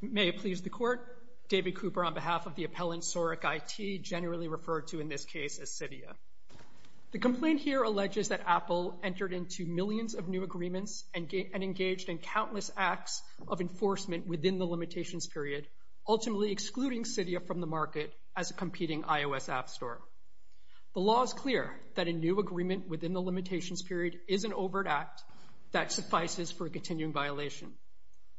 May it please the Court, David Cooper on behalf of the appellant SaurikIT, generally referred to in this case as Cydia. The complaint here alleges that Apple entered into millions of new agreements and engaged in countless acts of enforcement within the limitations period, ultimately excluding Cydia from the market as a competing iOS app store. The law is clear that a new agreement within the limitations period is an overt act that suffices for a continuing violation.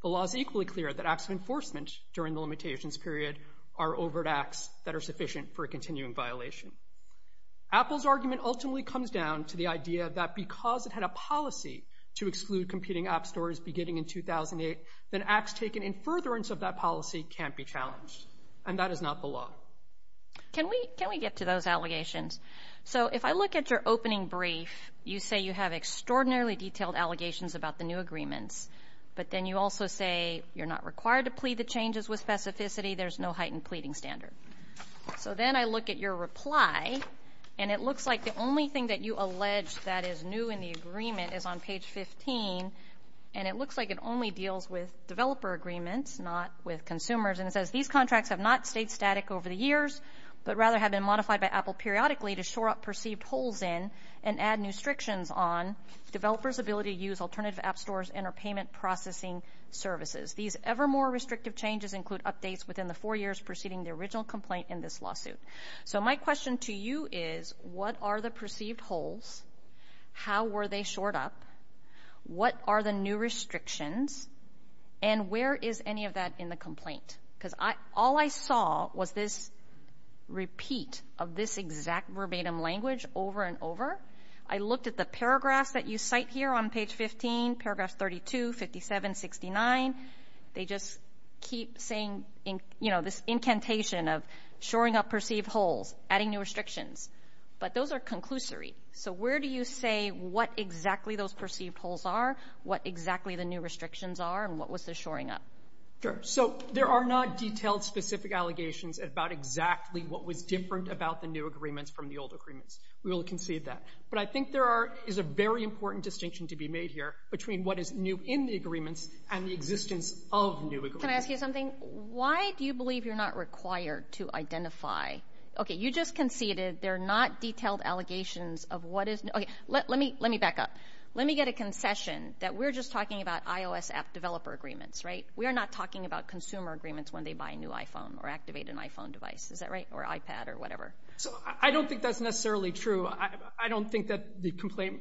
The law is equally clear that acts of enforcement during the limitations period are overt acts that are sufficient for a continuing violation. Apple's argument ultimately comes down to the idea that because it had a policy to exclude competing app stores beginning in 2008, then acts taken in furtherance of that policy can't be challenged, and that is not the law. So, can we get to those allegations? So if I look at your opening brief, you say you have extraordinarily detailed allegations about the new agreements, but then you also say you're not required to plead the changes with specificity, there's no heightened pleading standard. So then I look at your reply, and it looks like the only thing that you allege that is new in the agreement is on page 15, and it looks like it only deals with developer agreements, not with consumers, and it says, These contracts have not stayed static over the years, but rather have been modified by Apple periodically to shore up perceived holes in and add new restrictions on developers' ability to use alternative app stores and or payment processing services. These ever more restrictive changes include updates within the four years preceding the original complaint in this lawsuit. So my question to you is, what are the perceived holes? How were they shored up? What are the new restrictions? And where is any of that in the complaint? Because all I saw was this repeat of this exact verbatim language over and over. I looked at the paragraphs that you cite here on page 15, paragraphs 32, 57, 69, they just keep saying, you know, this incantation of shoring up perceived holes, adding new restrictions. But those are conclusory. So where do you say what exactly those perceived holes are? What exactly the new restrictions are? And what was the shoring up? Sure. So there are not detailed specific allegations about exactly what was different about the new agreements from the old agreements. We will concede that. But I think there is a very important distinction to be made here between what is new in the agreements and the existence of new agreements. Can I ask you something? Why do you believe you're not required to identify, okay, you just conceded they're not detailed allegations of what is, okay, let me back up. Let me get a concession that we're just talking about iOS app developer agreements, right? We are not talking about consumer agreements when they buy a new iPhone or activate an iPhone device. Is that right? Or iPad or whatever. So I don't think that's necessarily true. I don't think that the complaint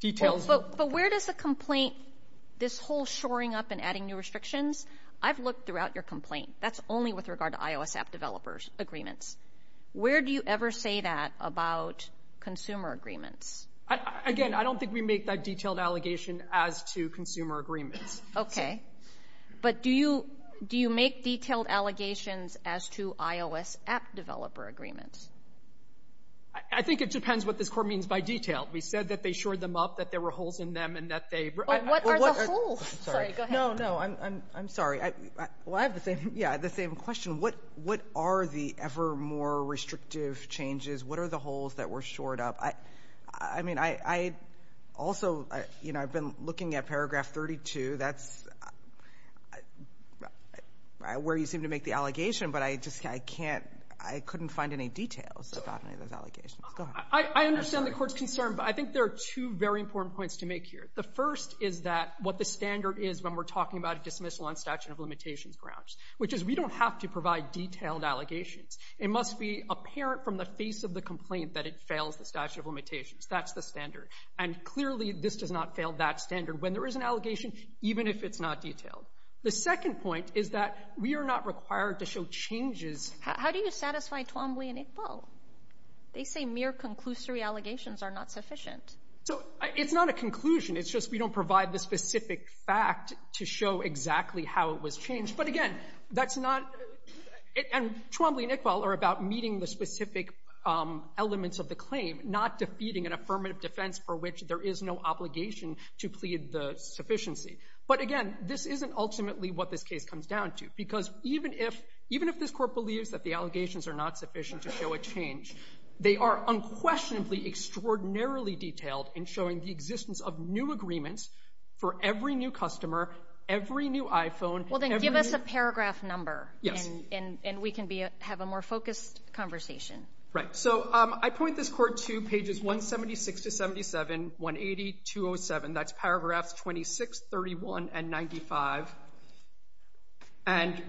details... But where does the complaint, this whole shoring up and adding new restrictions, I've looked throughout your complaint. That's only with regard to iOS app developers agreements. Where do you ever say that about consumer agreements? Again, I don't think we make that detailed allegation as to consumer agreements. Okay. But do you make detailed allegations as to iOS app developer agreements? I think it depends what this court means by detail. We said that they shored them up, that there were holes in them, and that they... What are the holes? Sorry, go ahead. No, no. I'm sorry. Well, I have the same question. What are the ever more restrictive changes? What are the holes that were shored up? I mean, I also, you know, I've been looking at paragraph 32. That's where you seem to make the allegation, but I just, I can't, I couldn't find any details about any of those allegations. Go ahead. I understand the court's concern, but I think there are two very important points to make here. The first is that what the standard is when we're talking about a dismissal on statute of limitations grounds, which is we don't have to provide detailed allegations. It must be apparent from the face of the complaint that it fails the statute of limitations. That's the standard. And clearly, this does not fail that standard when there is an allegation, even if it's not detailed. The second point is that we are not required to show changes... How do you satisfy Twombly and Iqbal? They say mere conclusory allegations are not sufficient. So it's not a conclusion. It's just we don't provide the specific fact to show exactly how it was changed. But again, that's not... And Twombly and Iqbal are about meeting the specific elements of the claim, not defeating an affirmative defense for which there is no obligation to plead the sufficiency. But again, this isn't ultimately what this case comes down to, because even if, even if this court believes that the allegations are not sufficient to show a change, they are unquestionably extraordinarily detailed in showing the existence of new agreements for every new customer, every new iPhone, every new... This is a paragraph number, and we can have a more focused conversation. Right. So I point this court to pages 176 to 77, 180, 207. That's paragraphs 26, 31, and 95. And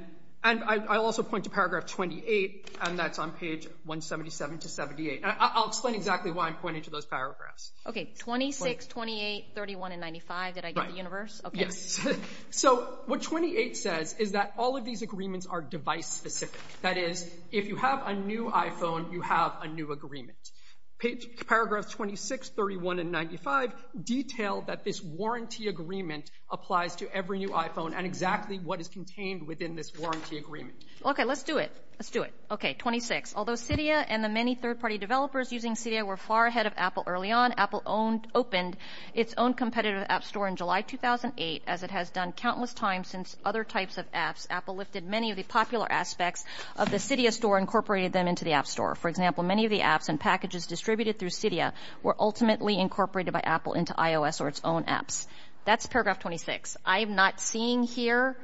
I'll also point to paragraph 28, and that's on page 177 to 78. I'll explain exactly why I'm pointing to those paragraphs. Okay. 26, 28, 31, and 95. Did I get the universe? Yes. So what 28 says is that all of these agreements are device-specific. That is, if you have a new iPhone, you have a new agreement. Paragraphs 26, 31, and 95 detail that this warranty agreement applies to every new iPhone and exactly what is contained within this warranty agreement. Okay. Let's do it. Let's do it. Okay. 26. Although Cydia and the many third-party developers using Cydia were far ahead of Apple early on, Apple opened its own competitive app store in July 2008. As it has done countless times since other types of apps, Apple lifted many of the popular aspects of the Cydia store, incorporated them into the app store. For example, many of the apps and packages distributed through Cydia were ultimately incorporated by Apple into iOS or its own apps. That's paragraph 26. I am not seeing here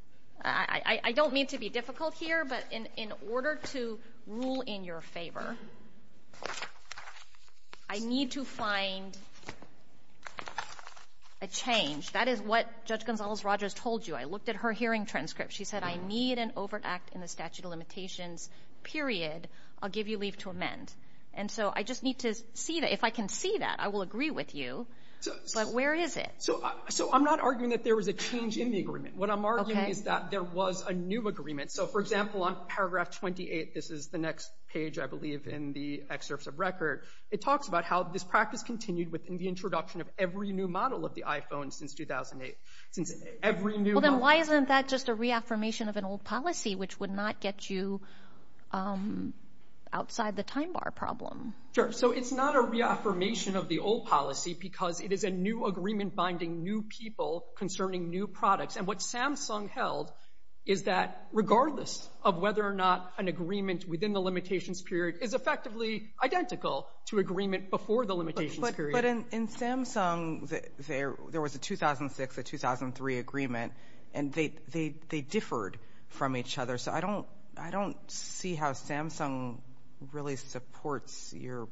— I don't mean to be difficult here, but in order to rule in your favor, I need to find a change. That is what Judge Gonzales-Rogers told you. I looked at her hearing transcript. She said, I need an overt act in the statute of limitations, period. I'll give you leave to amend. And so I just need to see that. If I can see that, I will agree with you, but where is it? So I'm not arguing that there was a change in the agreement. What I'm arguing is that there was a new agreement. So for example, on paragraph 28, this is the next page, I believe, in the excerpts of record. It talks about how this practice continued within the introduction of every new model of the iPhone since 2008. Since every new — Well, then why isn't that just a reaffirmation of an old policy, which would not get you outside the time bar problem? Sure. So it's not a reaffirmation of the old policy because it is a new agreement binding new people concerning new products. And what Samsung held is that regardless of whether or not an agreement within the limitations period is effectively identical to agreement before the limitations period — But in Samsung, there was a 2006, a 2003 agreement, and they differed from each other. So I don't see how Samsung really supports your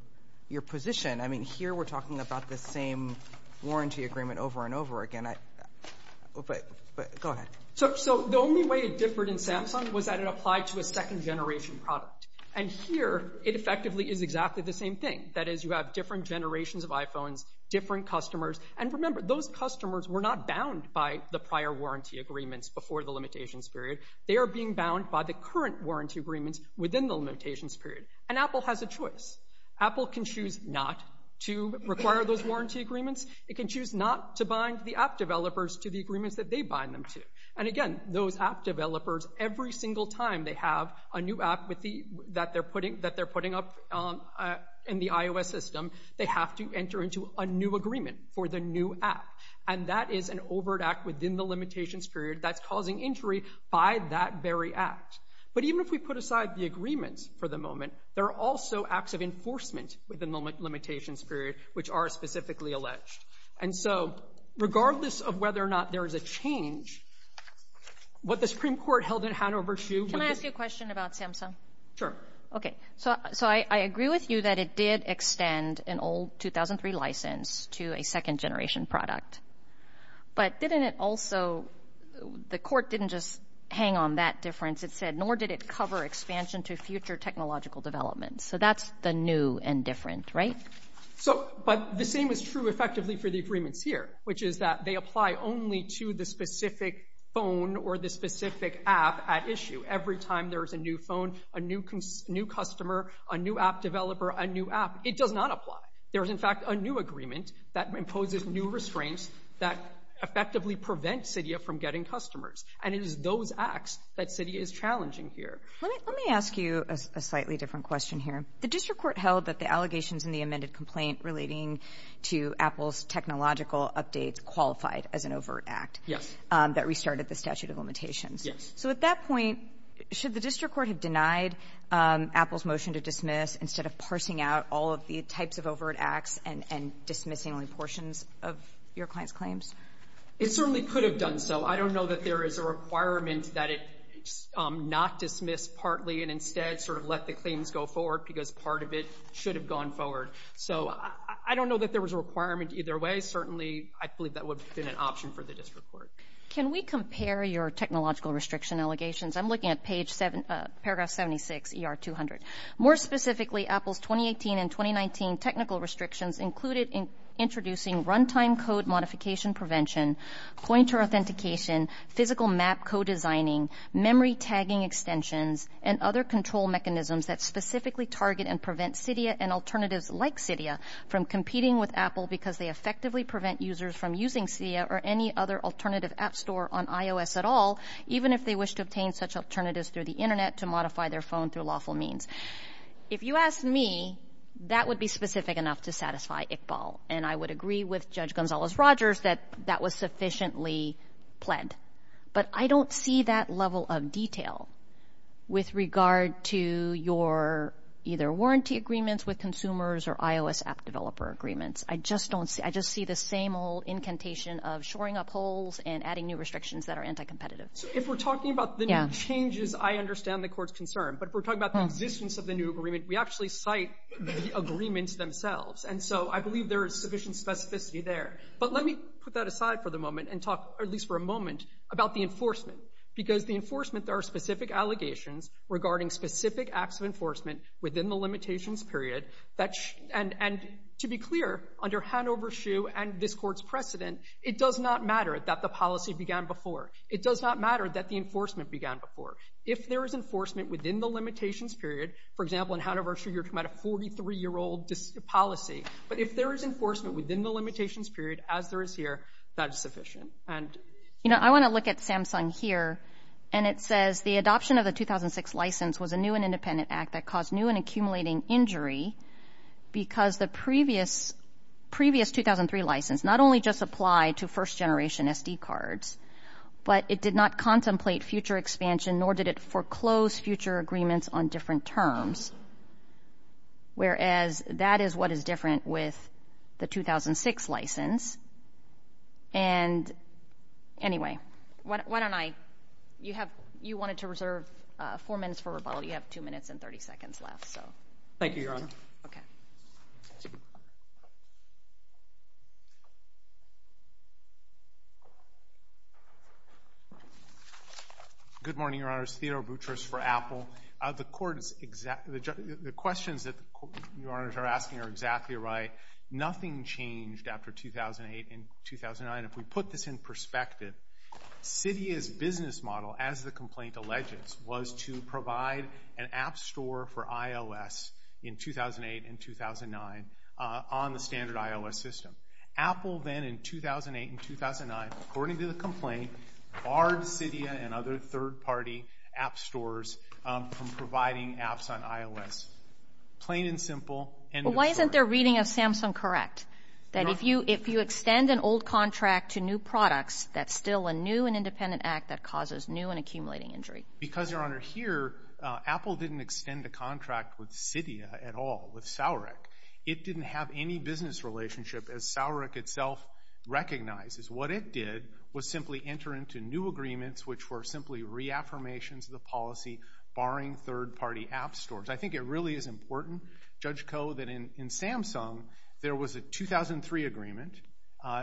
position. I mean, here we're talking about the same warranty agreement over and over again. But go ahead. So the only way it differed in Samsung was that it applied to a second-generation product. And here, it effectively is exactly the same thing. That is, you have different generations of iPhones, different customers. And remember, those customers were not bound by the prior warranty agreements before the limitations period. They are being bound by the current warranty agreements within the limitations period. And Apple has a choice. Apple can choose not to require those warranty agreements. It can choose not to bind the app developers to the agreements that they bind them to. And again, those app developers, every single time they have a new app that they're putting up in the iOS system, they have to enter into a new agreement for the new app. And that is an overt act within the limitations period that's causing injury by that very act. But even if we put aside the agreements for the moment, there are also acts of enforcement within the limitations period which are specifically alleged. And so, regardless of whether or not there is a change, what the Supreme Court held in Hanover to... Can I ask you a question about Samsung? Sure. Okay. So I agree with you that it did extend an old 2003 license to a second-generation product. But didn't it also... The court didn't just hang on that difference, it said, nor did it cover expansion to future technological developments. So that's the new and different, right? So... But the same is true effectively for the agreements here, which is that they apply only to the specific phone or the specific app at issue. Every time there is a new phone, a new customer, a new app developer, a new app, it does not apply. There is, in fact, a new agreement that imposes new restraints that effectively prevent Cydia from getting customers. And it is those acts that Cydia is challenging here. Let me ask you a slightly different question here. The district court held that the allegations in the amended complaint relating to Apple's technological updates qualified as an overt act. Yes. That restarted the statute of limitations. Yes. So at that point, should the district court have denied Apple's motion to dismiss instead of parsing out all of the types of overt acts and dismissing only portions of your client's claims? It certainly could have done so. I don't know that there is a requirement that it not dismiss partly and instead sort of let the claims go forward because part of it should have gone forward. So I don't know that there was a requirement either way. Certainly, I believe that would have been an option for the district court. Can we compare your technological restriction allegations? I'm looking at paragraph 76, ER 200. More specifically, Apple's 2018 and 2019 technical restrictions included introducing runtime code modification prevention, pointer authentication, physical map co-designing, memory tagging extensions, and other control mechanisms that specifically target and prevent Cydia and alternatives like Cydia from competing with Apple because they effectively prevent users from using Cydia or any other alternative app store on iOS at all, even if they wish to obtain such alternatives through the Internet to modify their phone through lawful means. If you ask me, that would be specific enough to satisfy Iqbal, and I would agree with Judge Gonzalez-Rogers that that was sufficiently pled. But I don't see that level of detail with regard to your either warranty agreements with consumers or iOS app developer agreements. I just don't see, I just see the same old incantation of shoring up holes and adding new restrictions that are anti-competitive. If we're talking about the new changes, I understand the court's concern. But if we're talking about the existence of the new agreement, we actually cite the agreements themselves. And so I believe there is sufficient specificity there. But let me put that aside for the moment and talk, at least for a moment, about the enforcement. Because the enforcement, there are specific allegations regarding specific acts of enforcement within the limitations period that, and to be clear, under Hanover-Schuh and this court's precedent, it does not matter that the policy began before. It does not matter that the enforcement began before. If there is enforcement within the limitations period, for example, in Hanover-Schuh, you're policy. But if there is enforcement within the limitations period, as there is here, that is sufficient. And... You know, I want to look at Samsung here, and it says the adoption of the 2006 license was a new and independent act that caused new and accumulating injury because the previous 2003 license not only just applied to first generation SD cards, but it did not contemplate future expansion, nor did it foreclose future agreements on different terms. Whereas, that is what is different with the 2006 license. And anyway, why don't I, you have, you wanted to reserve four minutes for rebuttal. You have two minutes and 30 seconds left, so. Thank you, Your Honor. Okay. Good morning, Your Honors. Theodore Boutrous for Apple. The Court's exact, the questions that Your Honors are asking are exactly right. Nothing changed after 2008 and 2009. If we put this in perspective, Cydia's business model, as the complaint alleges, was to provide an app store for iOS in 2008 and 2009 on the standard iOS system. Apple then, in 2008 and 2009, according to the complaint, barred Cydia and other third party app stores from providing apps on iOS. Plain and simple. Why isn't their reading of Samsung correct, that if you, if you extend an old contract to new products, that's still a new and independent act that causes new and accumulating injury? Because, Your Honor, here Apple didn't extend a contract with Cydia at all, with Sourick. It didn't have any business relationship, as Sourick itself recognizes. What it did was simply enter into new agreements, which were simply reaffirmations of the policy, barring third party app stores. I think it really is important, Judge Koh, that in Samsung there was a 2003 agreement.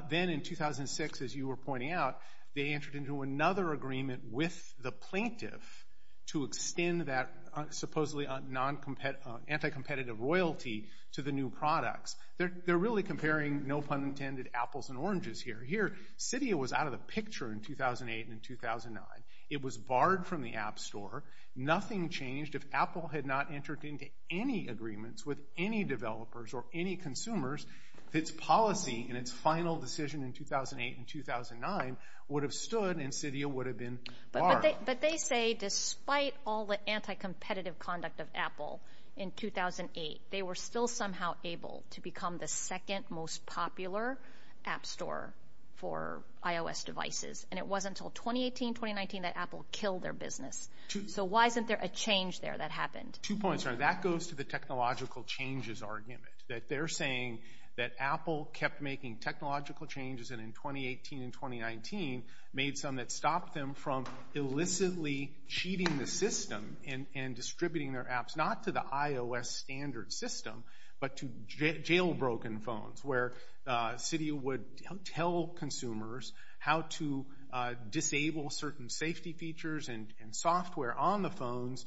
Then in 2006, as you were pointing out, they entered into another agreement with the plaintiff to extend that supposedly non-compet, anti-competitive royalty to the new products. They're really comparing, no pun intended, apples and oranges here. Cydia was out of the picture in 2008 and 2009. It was barred from the app store. Nothing changed. If Apple had not entered into any agreements with any developers or any consumers, its policy and its final decision in 2008 and 2009 would have stood and Cydia would have been barred. But they say despite all the anti-competitive conduct of Apple in 2008, they were still somehow able to become the second most popular app store for iOS devices. It wasn't until 2018, 2019 that Apple killed their business. Why isn't there a change there that happened? Two points. That goes to the technological changes argument. They're saying that Apple kept making technological changes and in 2018 and 2019 made some that stopped them from illicitly cheating the system and distributing their apps, not to the iOS standard system, but to jailbroken phones where Cydia would tell consumers how to disable certain safety features and software on the phones,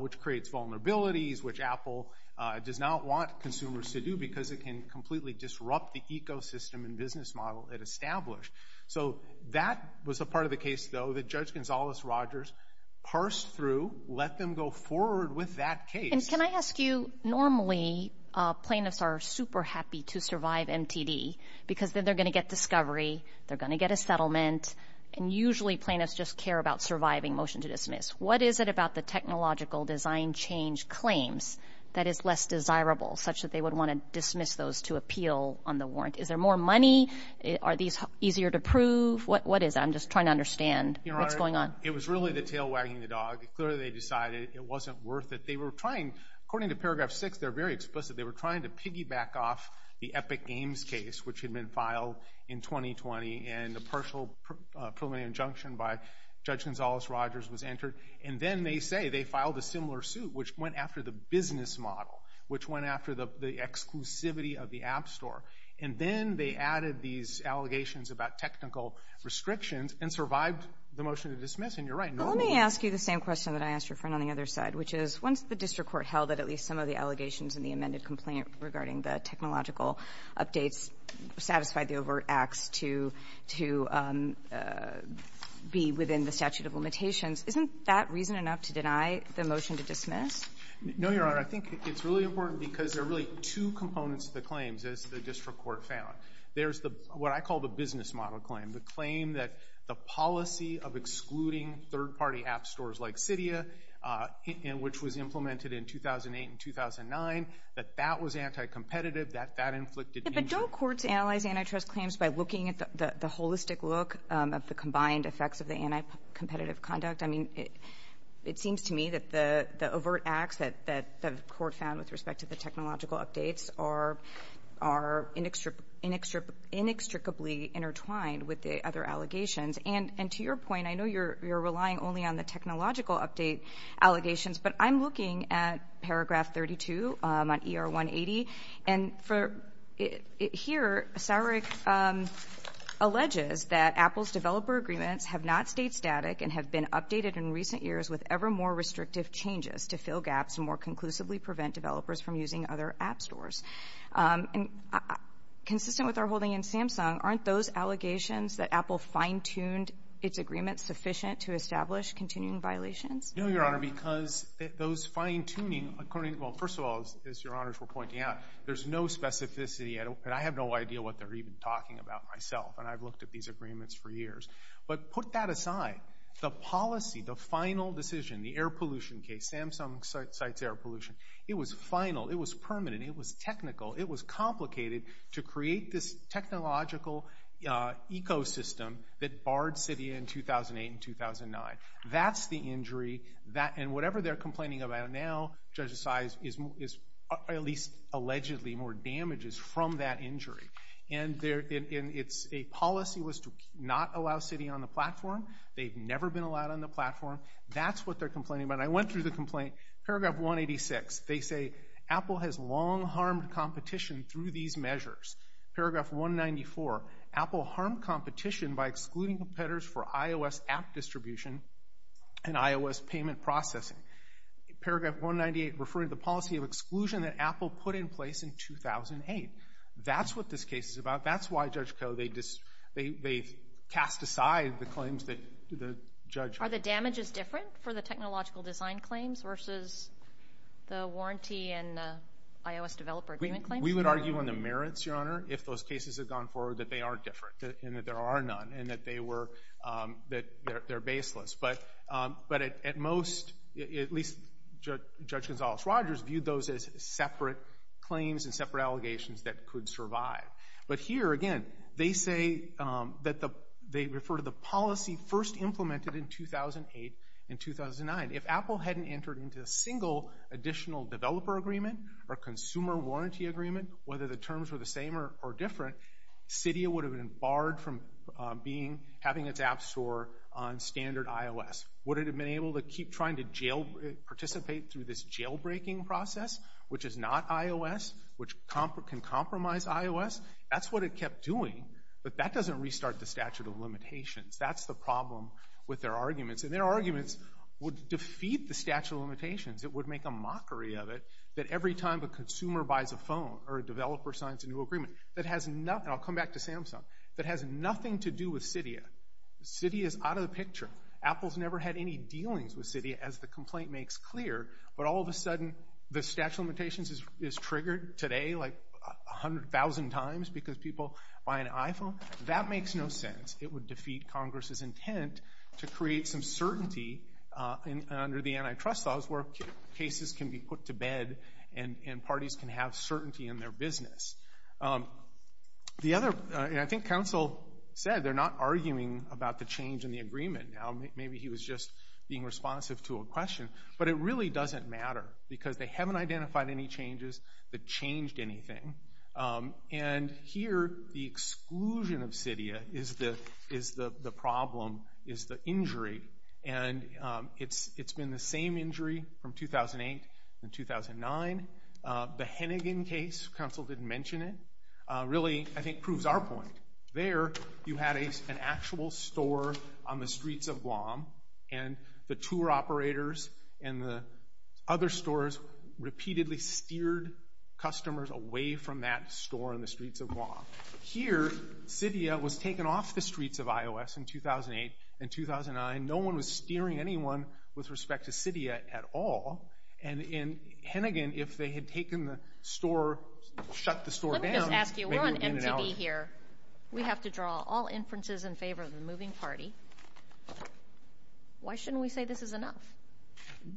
which creates vulnerabilities, which Apple does not want consumers to do because it can completely disrupt the ecosystem and business model it established. So that was a part of the case, though, that Judge Gonzales-Rogers parsed through, let them go forward with that case. And can I ask you, normally plaintiffs are super happy to survive MTD because then they're going to get discovery, they're going to get a settlement, and usually plaintiffs just care about surviving motion to dismiss. What is it about the technological design change claims that is less desirable such that they would want to dismiss those to appeal on the warrant? Is there more money? Are these easier to prove? What is it? I'm just trying to understand what's going on. It was really the tail wagging the dog. Clearly they decided it wasn't worth it. They were trying, according to paragraph six, they're very explicit, they were trying to piggyback off the Epic Games case, which had been filed in 2020 and a partial preliminary injunction by Judge Gonzales-Rogers was entered. And then they say they filed a similar suit, which went after the business model, which went after the exclusivity of the App Store. And then they added these allegations about technical restrictions and survived the motion to dismiss. And you're right, normally— I think the district court held that at least some of the allegations in the amended complaint regarding the technological updates satisfied the overt acts to be within the statute of limitations. Isn't that reason enough to deny the motion to dismiss? No, Your Honor. I think it's really important because there are really two components to the claims, as the district court found. There's what I call the business model claim, the claim that the policy of excluding third-party App Stores like Cydia, which was implemented in 2008 and 2009, that that was anti-competitive, that that inflicted injury. But don't courts analyze antitrust claims by looking at the holistic look of the combined effects of the anti-competitive conduct? I mean, it seems to me that the overt acts that the court found with respect to the technological updates are inextricably intertwined with the other allegations. And to your point, I know you're relying only on the technological update allegations, but I'm looking at paragraph 32 on ER-180, and for—here, Sarek alleges that Apple's developer agreements have not stayed static and have been updated in recent years with ever more restrictive changes to fill gaps and more conclusively prevent developers from using other App Stores. And consistent with our holding in Samsung, aren't those allegations that Apple fine-tuned its agreements sufficient to establish continuing violations? No, Your Honor, because those fine-tuning—well, first of all, as Your Honors were pointing out, there's no specificity, and I have no idea what they're even talking about myself, and I've looked at these agreements for years. But put that aside. The policy, the final decision, the air pollution case—Samsung cites air pollution—it was final. It was permanent. It was technical. It was complicated to create this technological ecosystem that barred Cydia in 2008 and 2009. That's the injury. And whatever they're complaining about now, Judge Assize, is at least allegedly more damages from that injury. And it's—a policy was to not allow Cydia on the platform. They've never been allowed on the platform. That's what they're complaining about. And I went through the complaint. Paragraph 186, they say, Apple has long harmed competition through these measures. Paragraph 194, Apple harmed competition by excluding competitors for iOS app distribution and iOS payment processing. Paragraph 198 referring to the policy of exclusion that Apple put in place in 2008. That's what this case is about. That's why, Judge Koh, they cast aside the claims that the judge— Are the damages different for the technological design claims versus the warranty and the iOS developer agreement claims? We would argue on the merits, Your Honor, if those cases had gone forward, that they are different and that there are none and that they were—that they're baseless. But at most, at least Judge Gonzales-Rogers viewed those as separate claims and separate allegations that could survive. But here, again, they say that the—they refer to the policy first implemented in 2008 and 2009. If Apple hadn't entered into a single additional developer agreement or consumer warranty agreement, whether the terms were the same or different, Cydia would have been barred from being—having its app store on standard iOS. Would it have been able to keep trying to jail—participate through this jailbreaking process, which is not iOS, which can compromise iOS? That's what it kept doing, but that doesn't restart the statute of limitations. That's the problem with their arguments. And their arguments would defeat the statute of limitations. It would make a mockery of it that every time a consumer buys a phone or a developer signs a new agreement that has nothing—and I'll come back to Samsung—that has nothing to do with Cydia. Cydia is out of the picture. Apple's never had any dealings with Cydia, as the complaint makes clear. But all of a sudden, the statute of limitations is triggered today like a hundred thousand times because people buy an iPhone. That makes no sense. It would defeat Congress's intent to create some certainty under the antitrust laws where cases can be put to bed and parties can have certainty in their business. The other—and I think counsel said they're not arguing about the change in the agreement. Now, maybe he was just being responsive to a question, but it really doesn't matter because they haven't identified any changes that changed anything. And here, the exclusion of Cydia is the problem, is the injury, and it's been the same injury from 2008 and 2009. The Hennigan case—counsel didn't mention it—really, I think, proves our point. There, you had an actual store on the streets of Guam, and the tour operators and the other stores repeatedly steered customers away from that store on the streets of Guam. Here, Cydia was taken off the streets of iOS in 2008 and 2009. No one was steering anyone with respect to Cydia at all. And in Hennigan, if they had taken the store, shut the store down— We have to draw all inferences in favor of the moving party. Why shouldn't we say this is enough?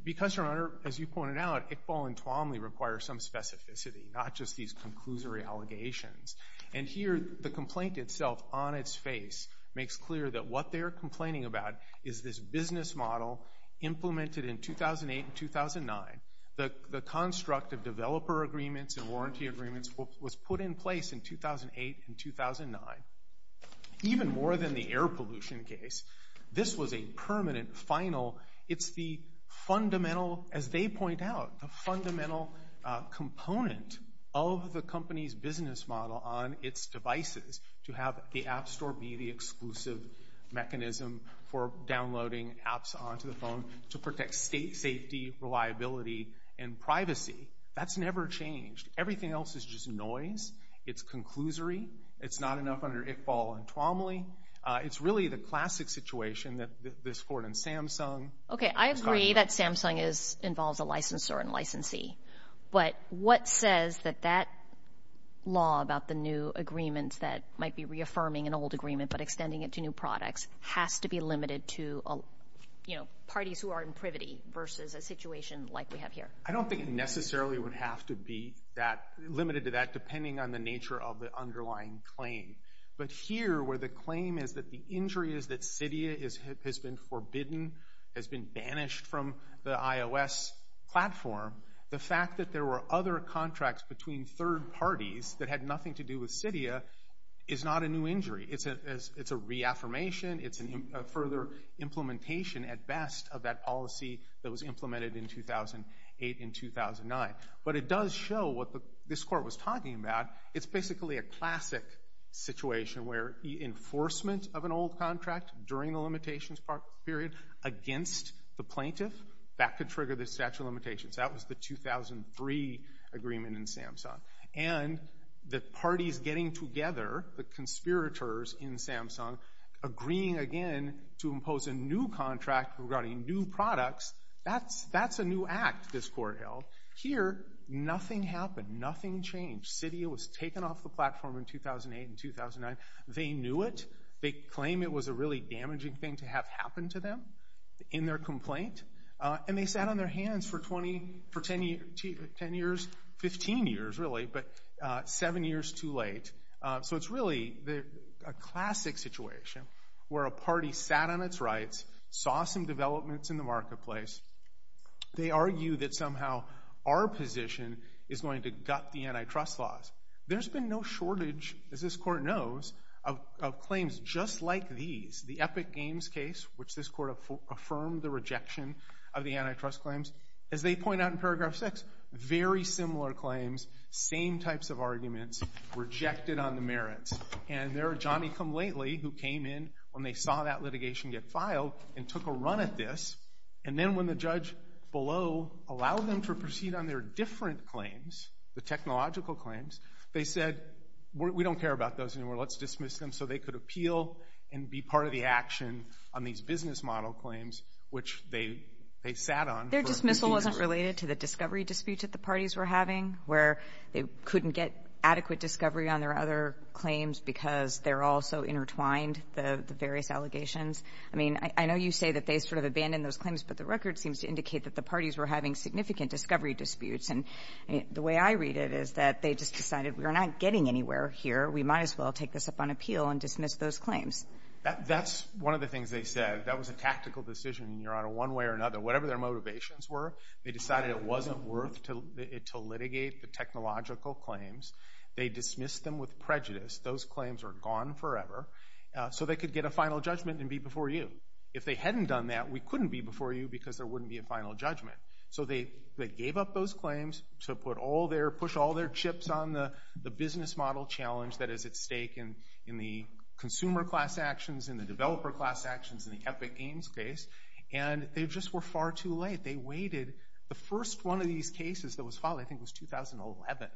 Because, Your Honor, as you pointed out, Iqbal and Tuomly require some specificity, not just these conclusory allegations. And here, the complaint itself, on its face, makes clear that what they're complaining about is this business model implemented in 2008 and 2009. The construct of developer agreements and warranty agreements was put in place in 2008 and 2009. Even more than the air pollution case, this was a permanent, final—it's the fundamental, as they point out, the fundamental component of the company's business model on its devices, to have the app store be the exclusive mechanism for downloading apps onto the phone to protect state safety, reliability, and privacy. That's never changed. Everything else is just noise. It's conclusory. It's not enough under Iqbal and Tuomly. It's really the classic situation that this court in Samsung— Okay, I agree that Samsung involves a licensor and licensee. But what says that that law about the new agreements that might be reaffirming an old agreement but extending it to new products has to be limited to, you know, parties who are in privity versus a situation like we have here? I don't think it necessarily would have to be that—limited to that, depending on the nature of the underlying claim. But here, where the claim is that the injury is that Cydia has been forbidden, has been banished from the iOS platform, the fact that there were other contracts between third parties that had nothing to do with Cydia is not a new injury. It's a reaffirmation. It's a further implementation, at best, of that policy that was implemented in 2008 and 2009. But it does show what this court was talking about. It's basically a classic situation where enforcement of an old contract during the limitations period against the plaintiff, that could trigger the statute of limitations. That was the 2003 agreement in Samsung. And the parties getting together, the conspirators in Samsung, agreeing again to impose a new contract regarding new products, that's a new act this court held. Here, nothing happened. Nothing changed. Cydia was taken off the platform in 2008 and 2009. They knew it. They claim it was a really damaging thing to have happen to them in their complaint. And they sat on their hands for 10 years, 15 years, really, but seven years too late. So it's really a classic situation where a party sat on its rights, saw some developments in the marketplace. They argue that somehow our position is going to gut the antitrust laws. There's been no shortage, as this court knows, of claims just like these. The Epic Games case, which this court affirmed the rejection of the antitrust claims, as they point out in paragraph 6, very similar claims, same types of arguments, rejected on the merits. And there are Johnny Come Lately, who came in when they saw that litigation get filed and took a run at this. And then when the judge below allowed them to proceed on their different claims, the technological claims, they said, we don't care about those anymore. Let's dismiss them so they could appeal and be part of the action on these business model claims, which they sat on for 15 years. Their dismissal wasn't related to the discovery dispute that the parties were having, where they couldn't get adequate discovery on their other claims because they're all so intertwined, the various allegations. I mean, I know you say that they sort of abandoned those claims, but the record seems to indicate that the parties were having significant discovery disputes. And the way I read it is that they just decided we're not getting anywhere here. We might as well take this up on appeal and dismiss those claims. That's one of the things they said. That was a tactical decision, Your Honor, one way or another. Whatever their motivations were, they decided it wasn't worth it to litigate the technological claims. They dismissed them with prejudice. Those claims are gone forever. So they could get a final judgment and be before you. If they hadn't done that, we couldn't be before you because there wouldn't be a final judgment. So they gave up those claims to put all their, push all their chips on the business model challenge that is at stake in the consumer class actions, in the developer class actions, in the Epic Games case. And they just were far too late. They waited. The first one of these cases that was filed, I think, was 2011.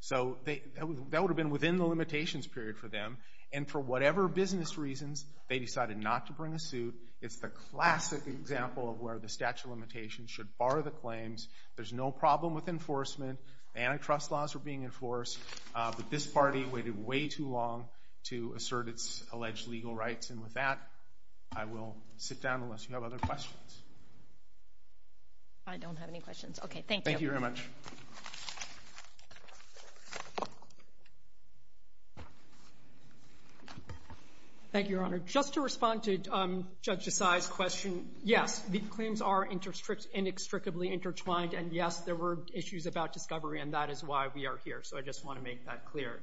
So that would have been within the limitations period for them. And for whatever business reasons, they decided not to bring a suit. It's the classic example of where the statute of limitations should bar the claims. There's no problem with enforcement. The antitrust laws are being enforced. But this party waited way too long to assert its alleged legal rights. And with that, I will sit down unless you have other questions. I don't have any questions. Thank you. Thank you very much. Thank you, Your Honor. Just to respond to Judge Desai's question, yes, the claims are inextricably intertwined. And yes, there were issues about discovery. And that is why we are here. So I just want to make that clear.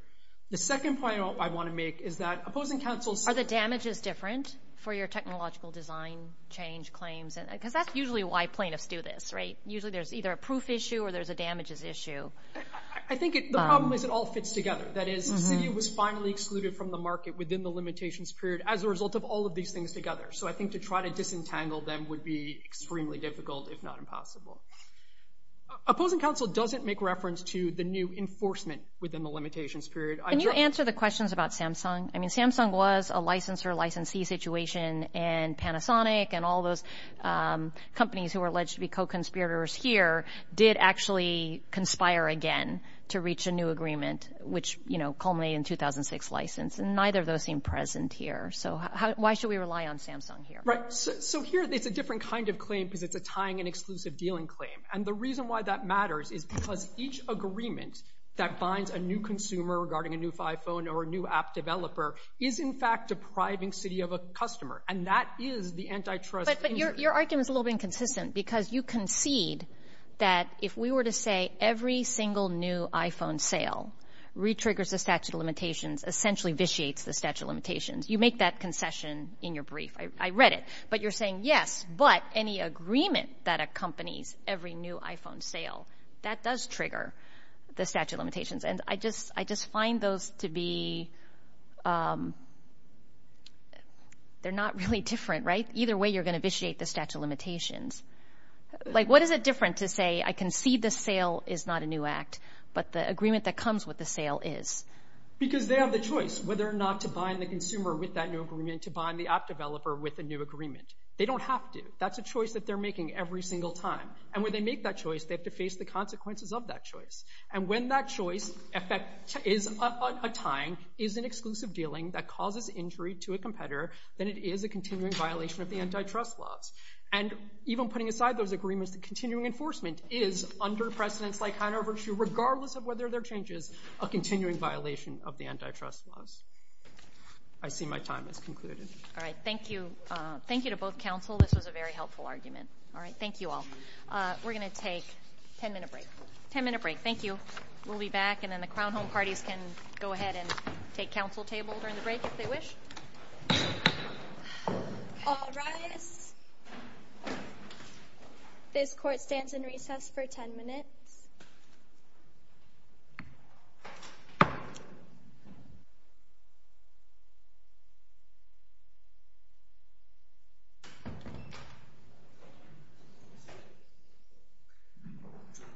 The second point I want to make is that opposing counsels... Are the damages different for your technological design change claims? Because that's usually why plaintiffs do this, right? Usually there's either a proof issue or there's a damages issue. I think the problem is it all fits together. That is, the city was finally excluded from the market within the limitations period as a result of all of these things together. So I think to try to disentangle them would be extremely difficult, if not impossible. Opposing counsel doesn't make reference to the new enforcement within the limitations period. Can you answer the questions about Samsung? I mean, Samsung was a license or licensee situation. And Panasonic and all those companies who are alleged to be co-conspirators here did actually conspire again to reach a new agreement, which culminated in 2006 license. And neither of those seem present here. So why should we rely on Samsung here? Right. So here it's a different kind of claim because it's a tying and exclusive dealing claim. And the reason why that matters is because each agreement that binds a new consumer regarding a new iPhone or a new app developer is, in fact, depriving city of a customer. And that is the antitrust. But your argument is a little inconsistent because you concede that if we were to say every single new iPhone sale re-triggers the statute of limitations, essentially vitiates the statute of limitations, you make that concession in your brief. I read it. But you're saying, yes, but any agreement that accompanies every new iPhone sale, that does trigger the statute of limitations. And I just find those to be...they're not really different, right? Either way, you're going to vitiate the statute of limitations. What is it different to say, I concede the sale is not a new act, but the agreement that comes with the sale is? Because they have the choice whether or not to bind the consumer with that new app developer with a new agreement. They don't have to. That's a choice that they're making every single time. And when they make that choice, they have to face the consequences of that choice. And when that choice is a tying, is an exclusive dealing that causes injury to a competitor, then it is a continuing violation of the antitrust laws. And even putting aside those agreements, the continuing enforcement is, under precedents like Hanover's, regardless of whether there are changes, a continuing violation of the antitrust laws. I see my time has concluded. All right. Thank you. Thank you to both counsel. This was a very helpful argument. All right. Thank you all. We're going to take a 10-minute break. 10-minute break. Thank you. We'll be back. And then the Crown Home Parties can go ahead and take counsel table during the break if they wish. All rise. This court stands in recess for 10 minutes. Thank you.